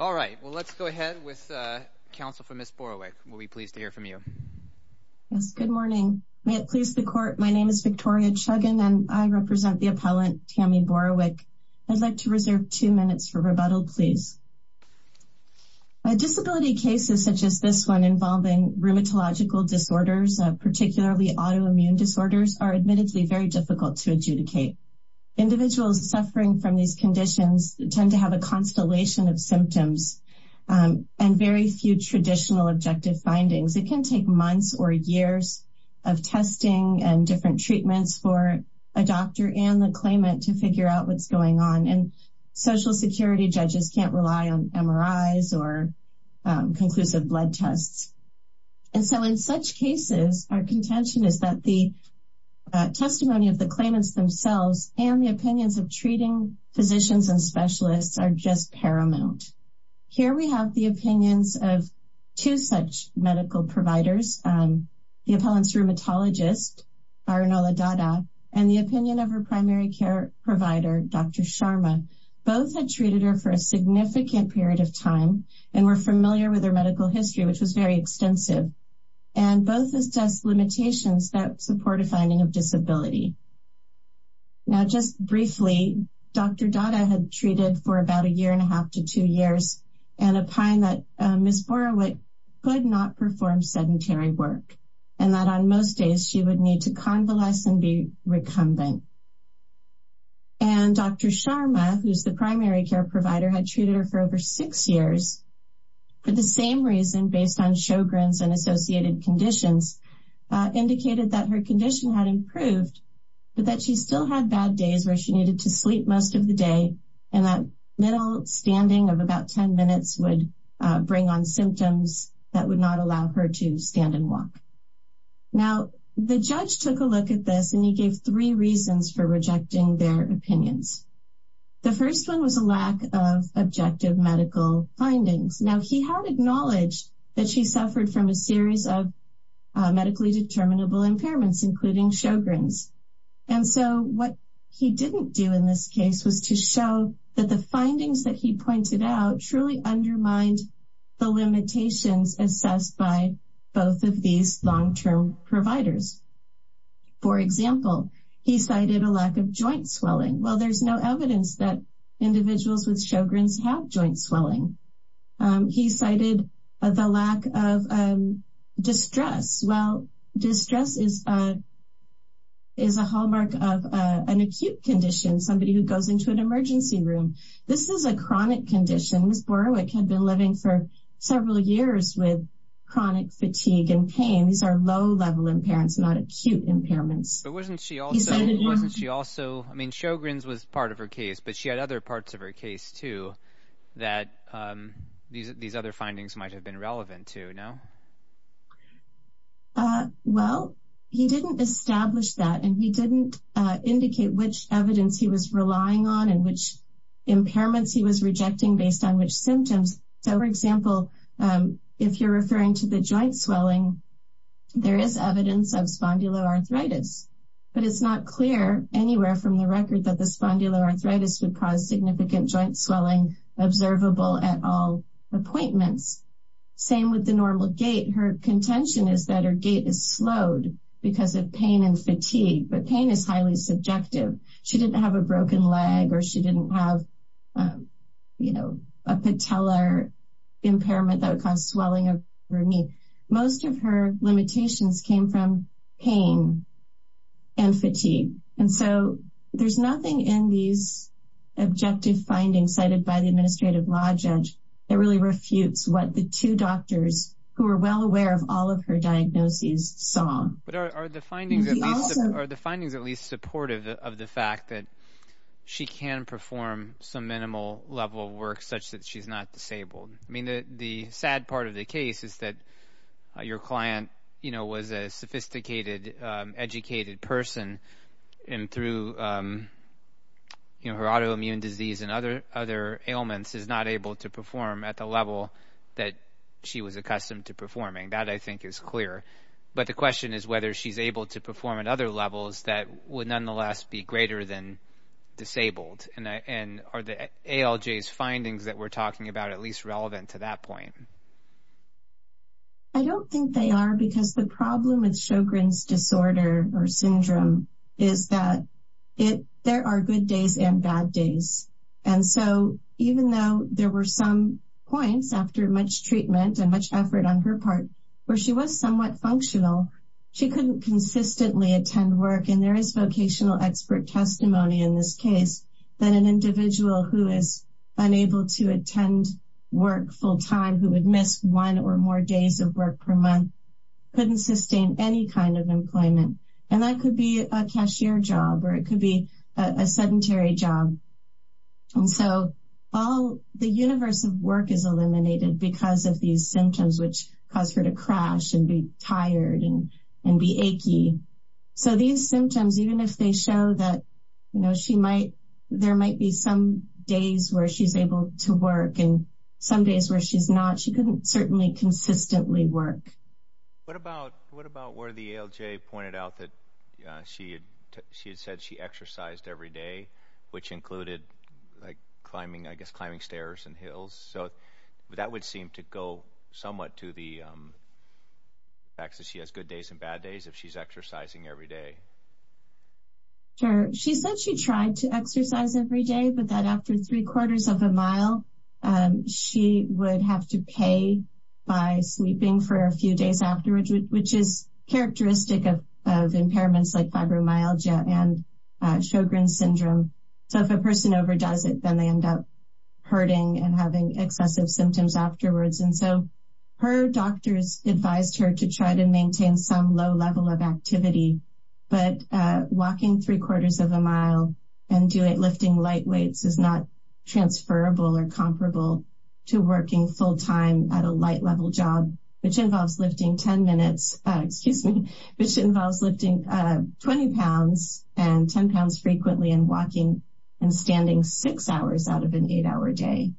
All right, well let's go ahead with counsel for Ms. Borowick. We'll be pleased to hear from you. Yes, good morning. May it please the court, my name is Victoria Chuggin and I represent the appellant Tami Borowick. I'd like to reserve two minutes for rebuttal, please. Disability cases such as this one involving rheumatological disorders, particularly autoimmune disorders, are admittedly very difficult to adjudicate. Individuals suffering from these symptoms and very few traditional objective findings. It can take months or years of testing and different treatments for a doctor and the claimant to figure out what's going on and Social Security judges can't rely on MRIs or conclusive blood tests. And so in such cases, our contention is that the testimony of the claimants themselves and the opinions of treating physicians and specialists are just paramount. Here we have the opinions of two such medical providers, the appellant's rheumatologist, Arunola Dada, and the opinion of her primary care provider, Dr. Sharma. Both had treated her for a significant period of time and were familiar with her medical history, which was very extensive. And both assessed limitations that support a finding of treated for about a year and a half to two years and a pine that Ms. Borowick could not perform sedentary work and that on most days she would need to convalesce and be recumbent. And Dr. Sharma, who's the primary care provider, had treated her for over six years for the same reason, based on Sjogren's and associated conditions, indicated that her condition had improved, but that she still had bad days where she needed to sleep most of the day. And that middle standing of about 10 minutes would bring on symptoms that would not allow her to stand and walk. Now, the judge took a look at this and he gave three reasons for rejecting their opinions. The first one was a lack of objective medical findings. Now he had acknowledged that she suffered from a series of medically determinable impairments, including Sjogren's. And so what he didn't do in this case was to show that the findings that he pointed out truly undermined the limitations assessed by both of these long term providers. For example, he cited a lack of joint swelling. Well, there's no evidence that individuals with Sjogren's have joint swelling. He cited the lack of distress. Well, distress is a hallmark of an acute condition, somebody who goes into an emergency room. This is a chronic condition. Ms. Borowick had been living for several years with chronic fatigue and pain. These are low level impairments, not acute impairments. But wasn't she also, I mean, Sjogren's was part of her case, but she had other findings, too, that these other findings might have been relevant to, no? Well, he didn't establish that and he didn't indicate which evidence he was relying on and which impairments he was rejecting based on which symptoms. So, for example, if you're referring to the joint swelling, there is evidence of spondyloarthritis, but it's not clear anywhere from the record that the joint swelling is observable at all appointments. Same with the normal gait. Her contention is that her gait is slowed because of pain and fatigue, but pain is highly subjective. She didn't have a broken leg or she didn't have, you know, a patellar impairment that would cause swelling of her knee. Most of her limitations came from pain and fatigue, and so there's nothing in these objective findings cited by the administrative law judge that really refutes what the two doctors, who are well aware of all of her diagnoses, saw. But are the findings at least supportive of the fact that she can perform some minimal level of work such that she's not disabled? I mean, the sad part of the case is that your client, you know, was a sophisticated, educated person, and through, you know, her autoimmune disease and other ailments, is not able to perform at the level that she was accustomed to performing. That, I think, is clear. But the question is whether she's able to perform at other levels that would nonetheless be greater than disabled, and are the ALJ's findings that we're talking about at least relevant to that point? I don't think they are, because the problem with Sjogren's disorder or syndrome is that there are good days and bad days. And so, even though there were some points, after much treatment and much effort on her part, where she was somewhat functional, she couldn't consistently attend work. And there is vocational expert testimony in this case that an individual who is unable to attend work full-time, who would miss one or more days of work per month, couldn't sustain any kind of employment. And that could be a cashier job, or it could be a sedentary job. And so, all the universe of work is eliminated because of these symptoms, which cause her to crash and be tired and be achy. So, these symptoms, even if they show that, you know, she might, there might be some days where she's able to work, and some days where she's not, she couldn't certainly consistently work. What about where the ALJ pointed out that she had said she exercised every day, which included, like, climbing, I guess, climbing stairs and hills. So, that would seem to go somewhat to the fact that she has good days and bad days if she's exercising every day. Sure. She said she tried to exercise every day, but that after three-quarters of a mile, she would have to pay by sleeping for a few days afterwards, which is characteristic of impairments like fibromyalgia and Sjogren's syndrome. So, if a person overdoes it, then they end up hurting and having excessive symptoms afterwards. And so, her doctors advised her to try to maintain some low level of activity. But walking three-quarters of a mile and lifting light weights is not transferable or comparable to working full-time at a light level job, which involves lifting 10 minutes, excuse me, which involves lifting 20 pounds and 10 pounds frequently and walking and standing six hours out of an eight-hour day.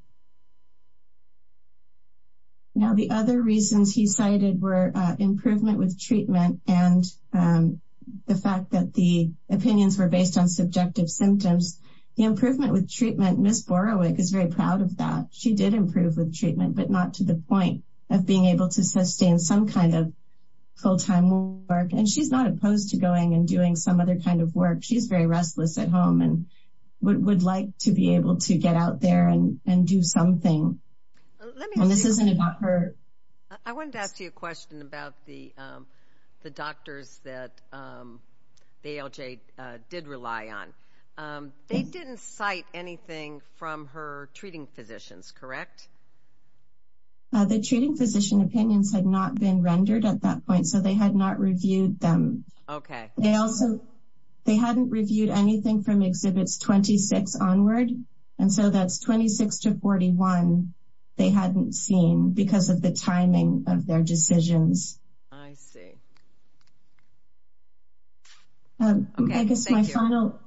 Now, the other reasons he cited were improvement with treatment and the fact that the opinions were based on subjective symptoms. The improvement with treatment, Ms. Borowick is very proud of that. She did improve with treatment, but not to the point of being able to sustain some kind of full-time work. And she's not opposed to going and doing some other kind of work. She's very restless at home and would like to be able to get out there and do something. And this isn't about her. I wanted to ask you a question about the doctors that ALJ did rely on. They didn't cite anything from her treating physicians, correct? The treating physician opinions had not been rendered at that point, so they had not reviewed them. Okay. They also, they hadn't reviewed anything from Exhibits 26 onward, and so that's 26 to 41 they hadn't seen because of the timing of their decisions. I see. Okay, thank you.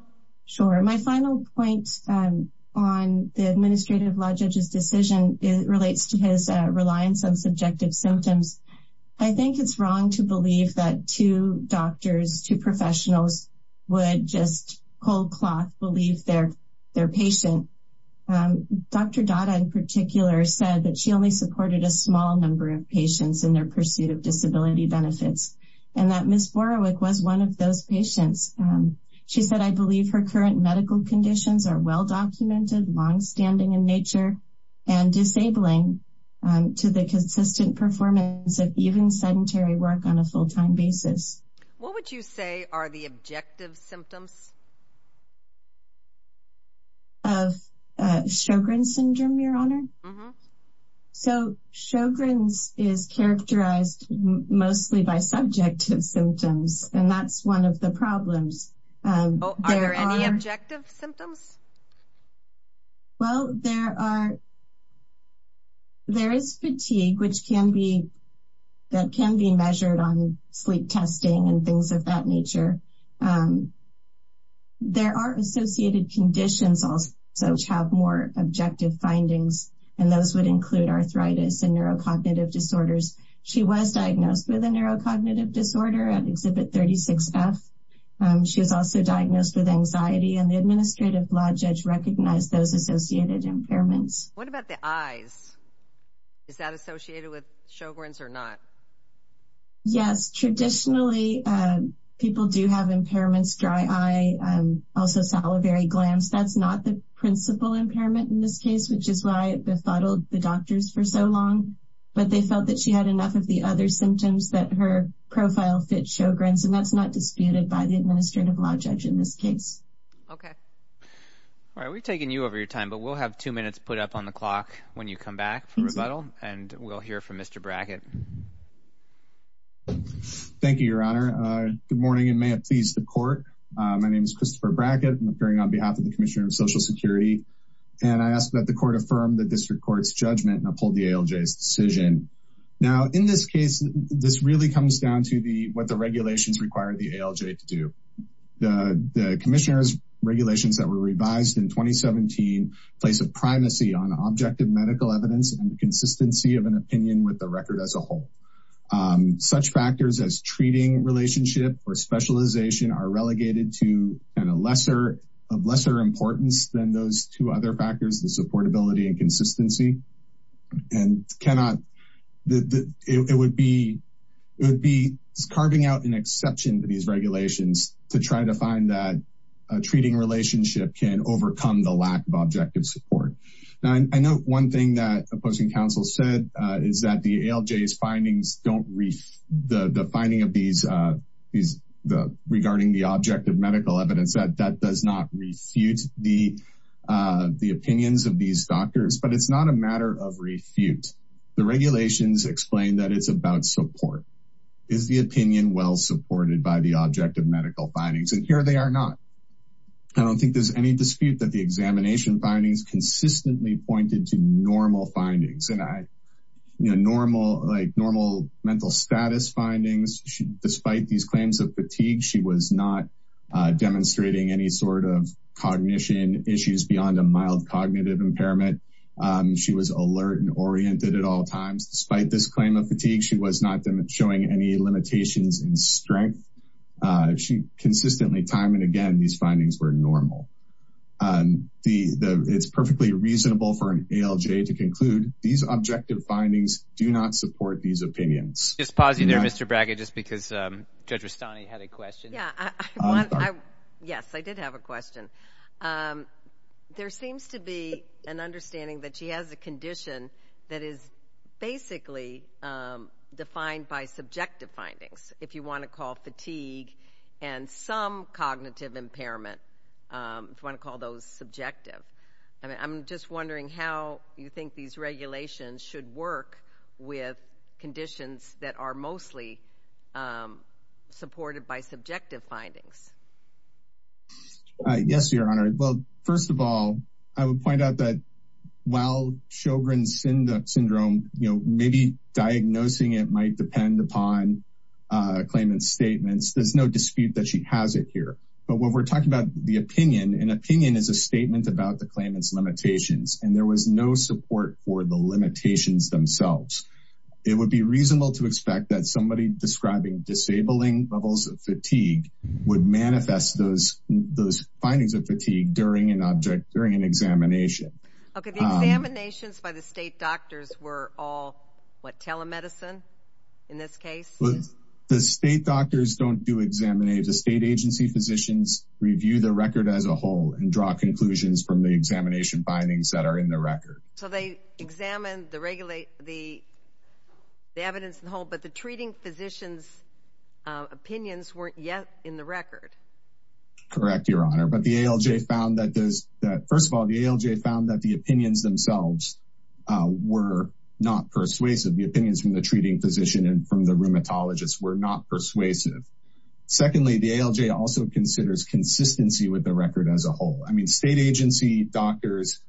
Sure. My final point on the Administrative Law Judge's decision relates to his reliance on subjective symptoms. I think it's wrong to believe that two doctors, two professionals, would just cold-cloth believe their patient. Dr. Dada, in particular, said that she only supported a small number of patients in their pursuit of disability benefits, and that Ms. Borowick was one of those patients. She said, I believe her current medical conditions are well documented, long-standing in nature, and disabling to the consistent performance of even sedentary work on a full-time basis. What would you say are the objective symptoms? Of Sjogren's Syndrome, your Honor? Mm-hmm. So, Sjogren's is characterized mostly by subjective symptoms, and that's one of the problems. Oh, are there any objective symptoms? Well, there are, there is fatigue which can be, that can be measured on sleep testing and things of that nature. There are associated conditions also which have more objective findings, and those would include arthritis and neurocognitive disorders. She was diagnosed with a neurocognitive disorder at Exhibit 36F. She was also diagnosed with anxiety, and the Administrative Law Judge recognized those associated impairments. What about the eyes? Is that associated with Sjogren's or not? Yes. Traditionally, people do have impairments, dry eye, also salivary glands. That's not the principal impairment in this case, which is why it befuddled the doctors for so long, but they felt that she had enough of the other symptoms that her profile fit Sjogren's, and that's not disputed by the Administrative Law Judge in this case. Okay. All right, we've taken you over your time, but we'll have two minutes put up on the clock when you come back for questions. Thank you, Your Honor. Good morning, and may it please the court. My name is Christopher Brackett. I'm appearing on behalf of the Commissioner of Social Security, and I ask that the court affirm the District Court's judgment and uphold the ALJ's decision. Now, in this case, this really comes down to what the regulations require the ALJ to do. The Commissioner's regulations that were revised in 2017 place a primacy on objective medical evidence and the such factors as treating relationship or specialization are relegated to and a lesser of lesser importance than those two other factors, the supportability and consistency, and it would be carving out an exception to these regulations to try to find that a treating relationship can overcome the lack of objective support. Now, I know one thing that opposing counsel said is that the ALJ's findings don't refute the finding regarding the objective medical evidence. That does not refute the opinions of these doctors, but it's not a matter of refute. The regulations explain that it's about support. Is the opinion well supported by the objective medical findings? And here they are not. I don't think there's any dispute that the examination findings consistently pointed to normal findings and normal mental status findings. Despite these claims of fatigue, she was not demonstrating any sort of cognition issues beyond a mild cognitive impairment. She was alert and oriented at all times. Despite this claim of fatigue, she was not showing any limitations in strength. Consistently, time and again, these findings were normal. It's perfectly reasonable for an ALJ to conclude these objective findings do not support these opinions. Just pause you there, Mr. Bragg, just because Judge Rustani had a question. Yeah. Yes, I did have a question. There seems to be an understanding that she has a condition that is basically defined by subjective findings, if you want to call those subjective. I'm just wondering how you think these regulations should work with conditions that are mostly supported by subjective findings? Yes, Your Honor. Well, first of all, I would point out that while Sjogren's Syndrome, you know, maybe diagnosing it might depend upon a claimant's statements. There's no dispute that she has it here. But what we're talking about the opinion, an opinion is a statement about the claimant's limitations, and there was no support for the limitations themselves. It would be reasonable to expect that somebody describing disabling levels of fatigue would manifest those findings of fatigue during an examination. Okay, the examinations by the state doctors were all, what, telemedicine in this case? The state doctors don't do examinations. The state agency physicians review the record as a whole and draw conclusions from the examination findings that are in the record. So they examined the evidence as a whole, but the treating physician's opinions weren't yet in the record. Correct, Your Honor. But the ALJ found that there's that first of all, the ALJ found that the opinions themselves were not persuasive. The opinions from the dermatologists were not persuasive. Secondly, the ALJ also considers consistency with the record as a whole. I mean, state agency doctors,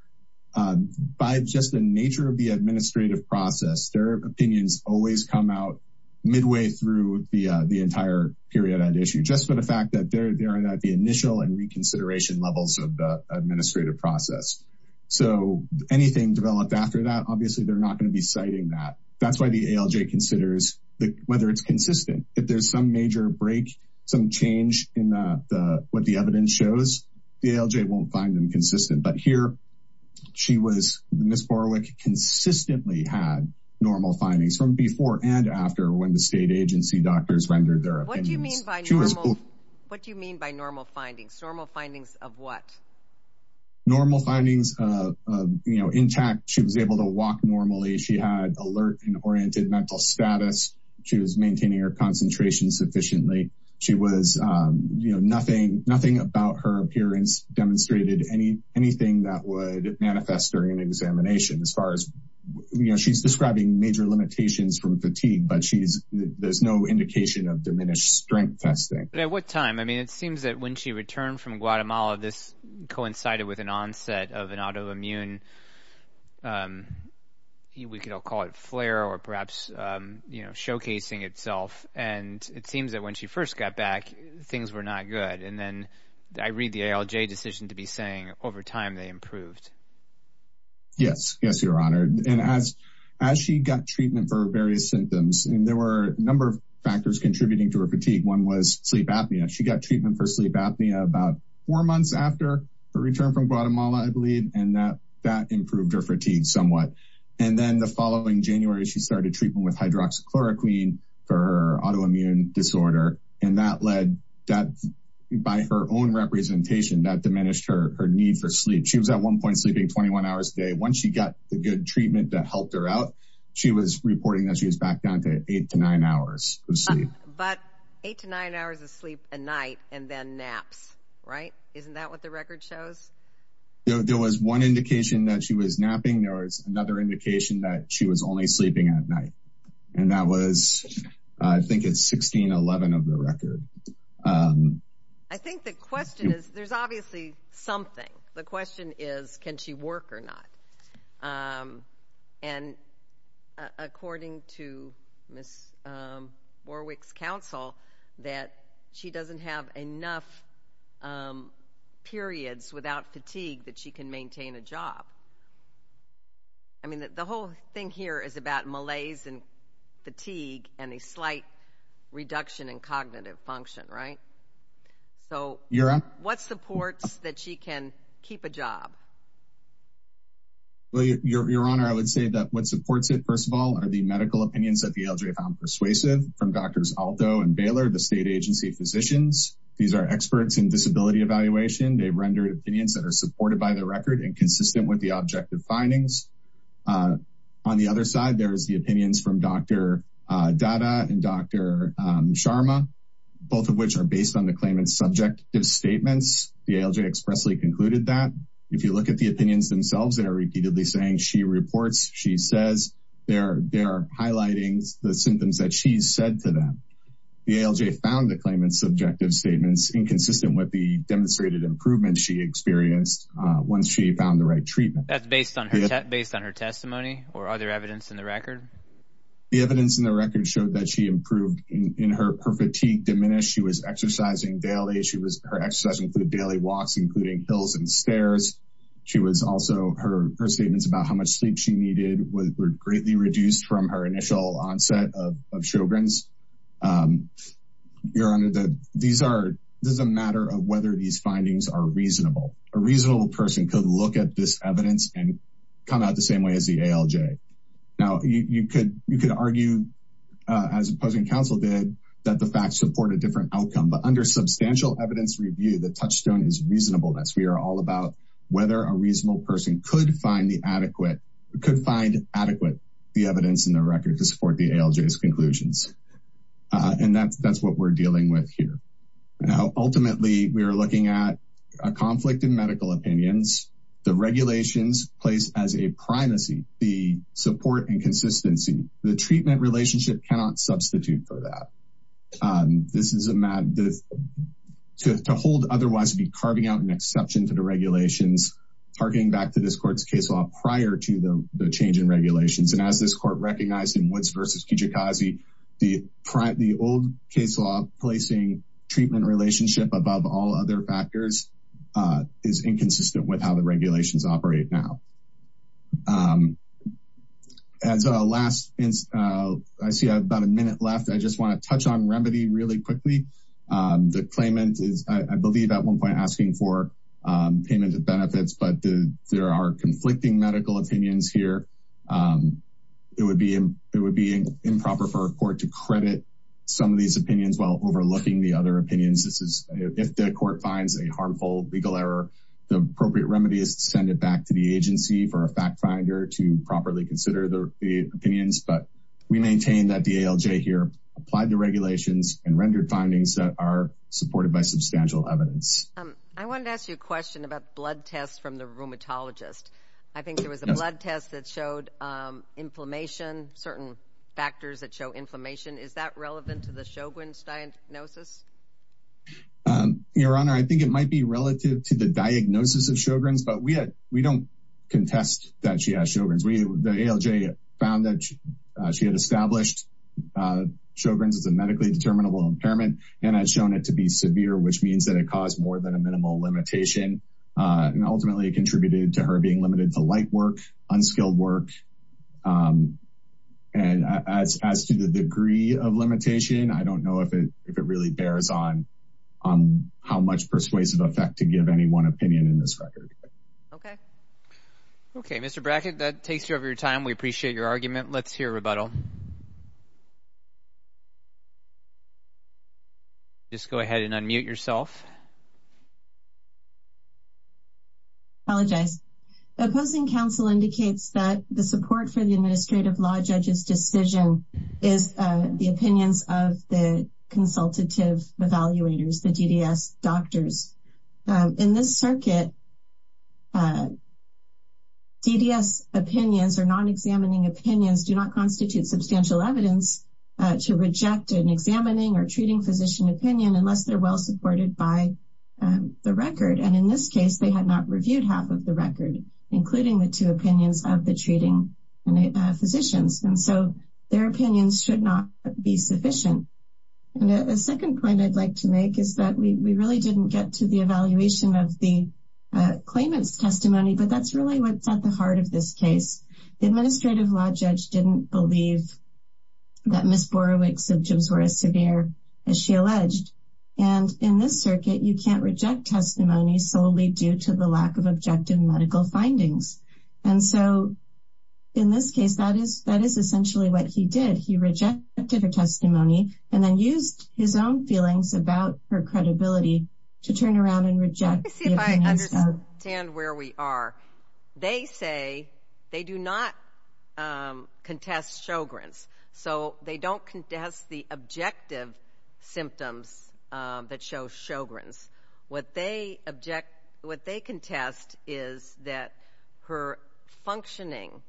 by just the nature of the administrative process, their opinions always come out midway through the entire period and issue just for the fact that they're there at the initial and reconsideration levels of the administrative process. So anything developed after that, obviously, they're not going to be citing that. That's why the ALJ considers whether it's consistent. If there's some major break, some change in what the evidence shows, the ALJ won't find them consistent. But here, she was, Ms. Borowick, consistently had normal findings from before and after when the state agency doctors rendered their opinions. What do you mean by normal? What do you mean by normal findings? Normal findings of what? Normal findings of, you know, intact. She was able to walk normally. She had alert and oriented mental status. She was maintaining her concentration sufficiently. She was, you know, nothing, nothing about her appearance demonstrated anything that would manifest during an examination as far as, you know, she's describing major limitations from fatigue, but she's, there's no indication of diminished strength testing. At what time? I mean, it seems that when she returned from Guatemala, this flare or perhaps, you know, showcasing itself. And it seems that when she first got back, things were not good. And then I read the ALJ decision to be saying over time they improved. Yes, yes, Your Honor. And as, as she got treatment for various symptoms, and there were a number of factors contributing to her fatigue. One was sleep apnea. She got treatment for sleep apnea about four months after her return from Guatemala, I believe, and that that improved her fatigue somewhat. And then the following January, she started treatment with hydroxychloroquine for autoimmune disorder. And that led that by her own representation that diminished her need for sleep. She was at one point sleeping 21 hours a day. Once she got the good treatment that helped her out, she was reporting that she was back down to eight to nine hours of sleep. But eight to nine hours of sleep a night and then naps, right? Isn't that what the record shows? There was one indication that she was napping, there was another indication that she was only sleeping at night. And that was, I think it's 1611 of the record. I think the question is, there's obviously something. The question is, can she work or not? And according to Miss Warwick's counsel, that she doesn't have enough periods without fatigue that she can maintain a job. I mean, the whole thing here is about malaise and fatigue and a slight reduction in cognitive function, right? So what supports that she can keep a job? Well, Your Honor, I would say that what supports it, first of all, are the medical opinions that the LGA found persuasive from doctors, Aldo and Baylor, the state agency physicians. These are experts in disability evaluation, they've rendered opinions that are supported by the record and consistent with the objective findings. On the other side, there's the opinions from Dr. Dada and Dr. Sharma, both of which are based on the claimant's subjective statements. The LGA expressly concluded that if you look at the opinions themselves, they are repeatedly saying she reports, she says, they're highlighting the symptoms that she said to them. The LGA found the claimant's subjective statements inconsistent with the demonstrated improvement she experienced once she found the right treatment. That's based on her testimony or other evidence in the record? The evidence in the record showed that she improved in her fatigue diminished, she was exercising daily, she was exercising for the daily walks, including hills and stairs. She was also her statements about how much sleep she needed were greatly reduced from her initial onset of Sjogren's. Your Honor, these are, this is a matter of whether these findings are reasonable. A reasonable person could look at this evidence and come out the same way as the ALJ. Now, you could argue, as opposing counsel did, that the facts support a different outcome. But under substantial evidence review, the touchstone is reasonableness. We are all about whether a reasonable person could find the adequate, could find adequate, the evidence in the record to support the ALJ's conclusions. And that's what we're dealing with here. Now, ultimately, we are looking at a conflict in medical opinions, the regulations placed as a primacy, the support and consistency, the treatment relationship cannot substitute for that. This is a matter to hold otherwise be carving out an exception to the regulations, targeting back to this court's case law prior to the change in regulations. And as this court recognized in Woods v. Kijikazi, the old case law placing treatment relationship above all other factors is inconsistent with how the regulations operate now. As a last, I see I have about a minute left, I just want to touch on remedy really quickly. The claimant is, I believe at one point, asking for payment of benefits, but there are conflicting medical opinions here. It would be it would be improper for a court to credit some of these opinions while overlooking the other opinions. This is if the court finds a harmful legal error, the appropriate remedy is to send it back to the agency for a fact finder to properly consider the opinions. But we maintain that the ALJ here applied the regulations and rendered findings that are supported by substantial evidence. I wanted to ask you a question about blood tests from the rheumatologist. I saw a blood test that showed inflammation, certain factors that show inflammation. Is that relevant to the Sjogren's diagnosis? Your Honor, I think it might be relative to the diagnosis of Sjogren's, but we had, we don't contest that she has Sjogren's. We, the ALJ found that she had established Sjogren's as a medically determinable impairment, and had shown it to be severe, which means that it caused more than a minimal limitation. And ultimately, it contributed to her being limited to light work, unskilled work. And as as to the degree of limitation, I don't know if it if it really bears on on how much persuasive effect to give any one opinion in this record. Okay. Okay, Mr. Brackett, that takes you over your time. We appreciate your argument. Let's hear rebuttal. Just go ahead and unmute yourself. Apologize. Opposing counsel indicates that the support for the administrative law judge's decision is the opinions of the consultative evaluators, the DDS doctors. In this circuit, DDS opinions or non-examining opinions do not constitute substantial evidence to reject an examining or treating physician opinion unless they're well informed. In this case, they had not reviewed half of the record, including the two opinions of the treating physicians. And so their opinions should not be sufficient. And a second point I'd like to make is that we really didn't get to the evaluation of the claimant's testimony. But that's really what's at the heart of this case. The administrative law judge didn't believe that Ms. Borowick's symptoms were as severe as she alleged. And in this case, that is essentially what he did. He rejected her testimony and then used his own feelings about her credibility to turn around and reject the evidence. Let me see if I understand where we are. They say they do not contest Sjogren's. So they don't contest the objective symptoms that show Sjogren's. What they object, what they contest is that her functioning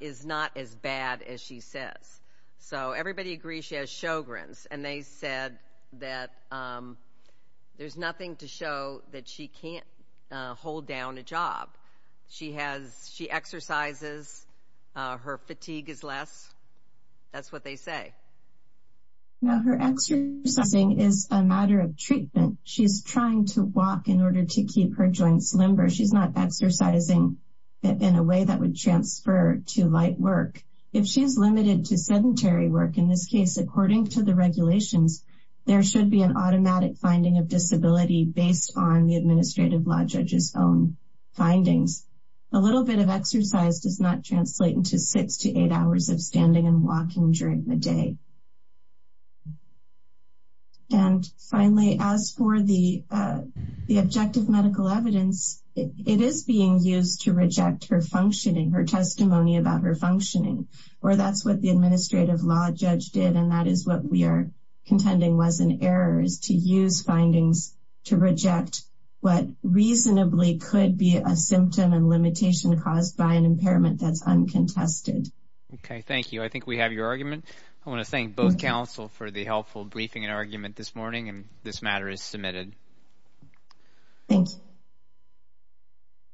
is not as bad as she says. So everybody agrees she has Sjogren's. And they said that there's nothing to show that she can't hold down a job. She has, she exercises. Her fatigue is less. That's what they say. Now, her exercising is a matter of treatment. She's trying to walk in order to keep her joints limber. She's not exercising in a way that would transfer to light work. If she's limited to sedentary work, in this case, according to the regulations, there should be an automatic finding of disability based on the administrative law judge's own findings. A little bit of exercise does not translate into six to walking during the day. And finally, as for the objective medical evidence, it is being used to reject her functioning, her testimony about her functioning. Or that's what the administrative law judge did. And that is what we are contending was an error is to use findings to reject what reasonably could be a symptom and limitation caused by an impairment that's uncontested. Okay. Thank you. I think we have your argument. I want to thank both counsel for the helpful briefing and argument this morning. And this matter is submitted. Thanks.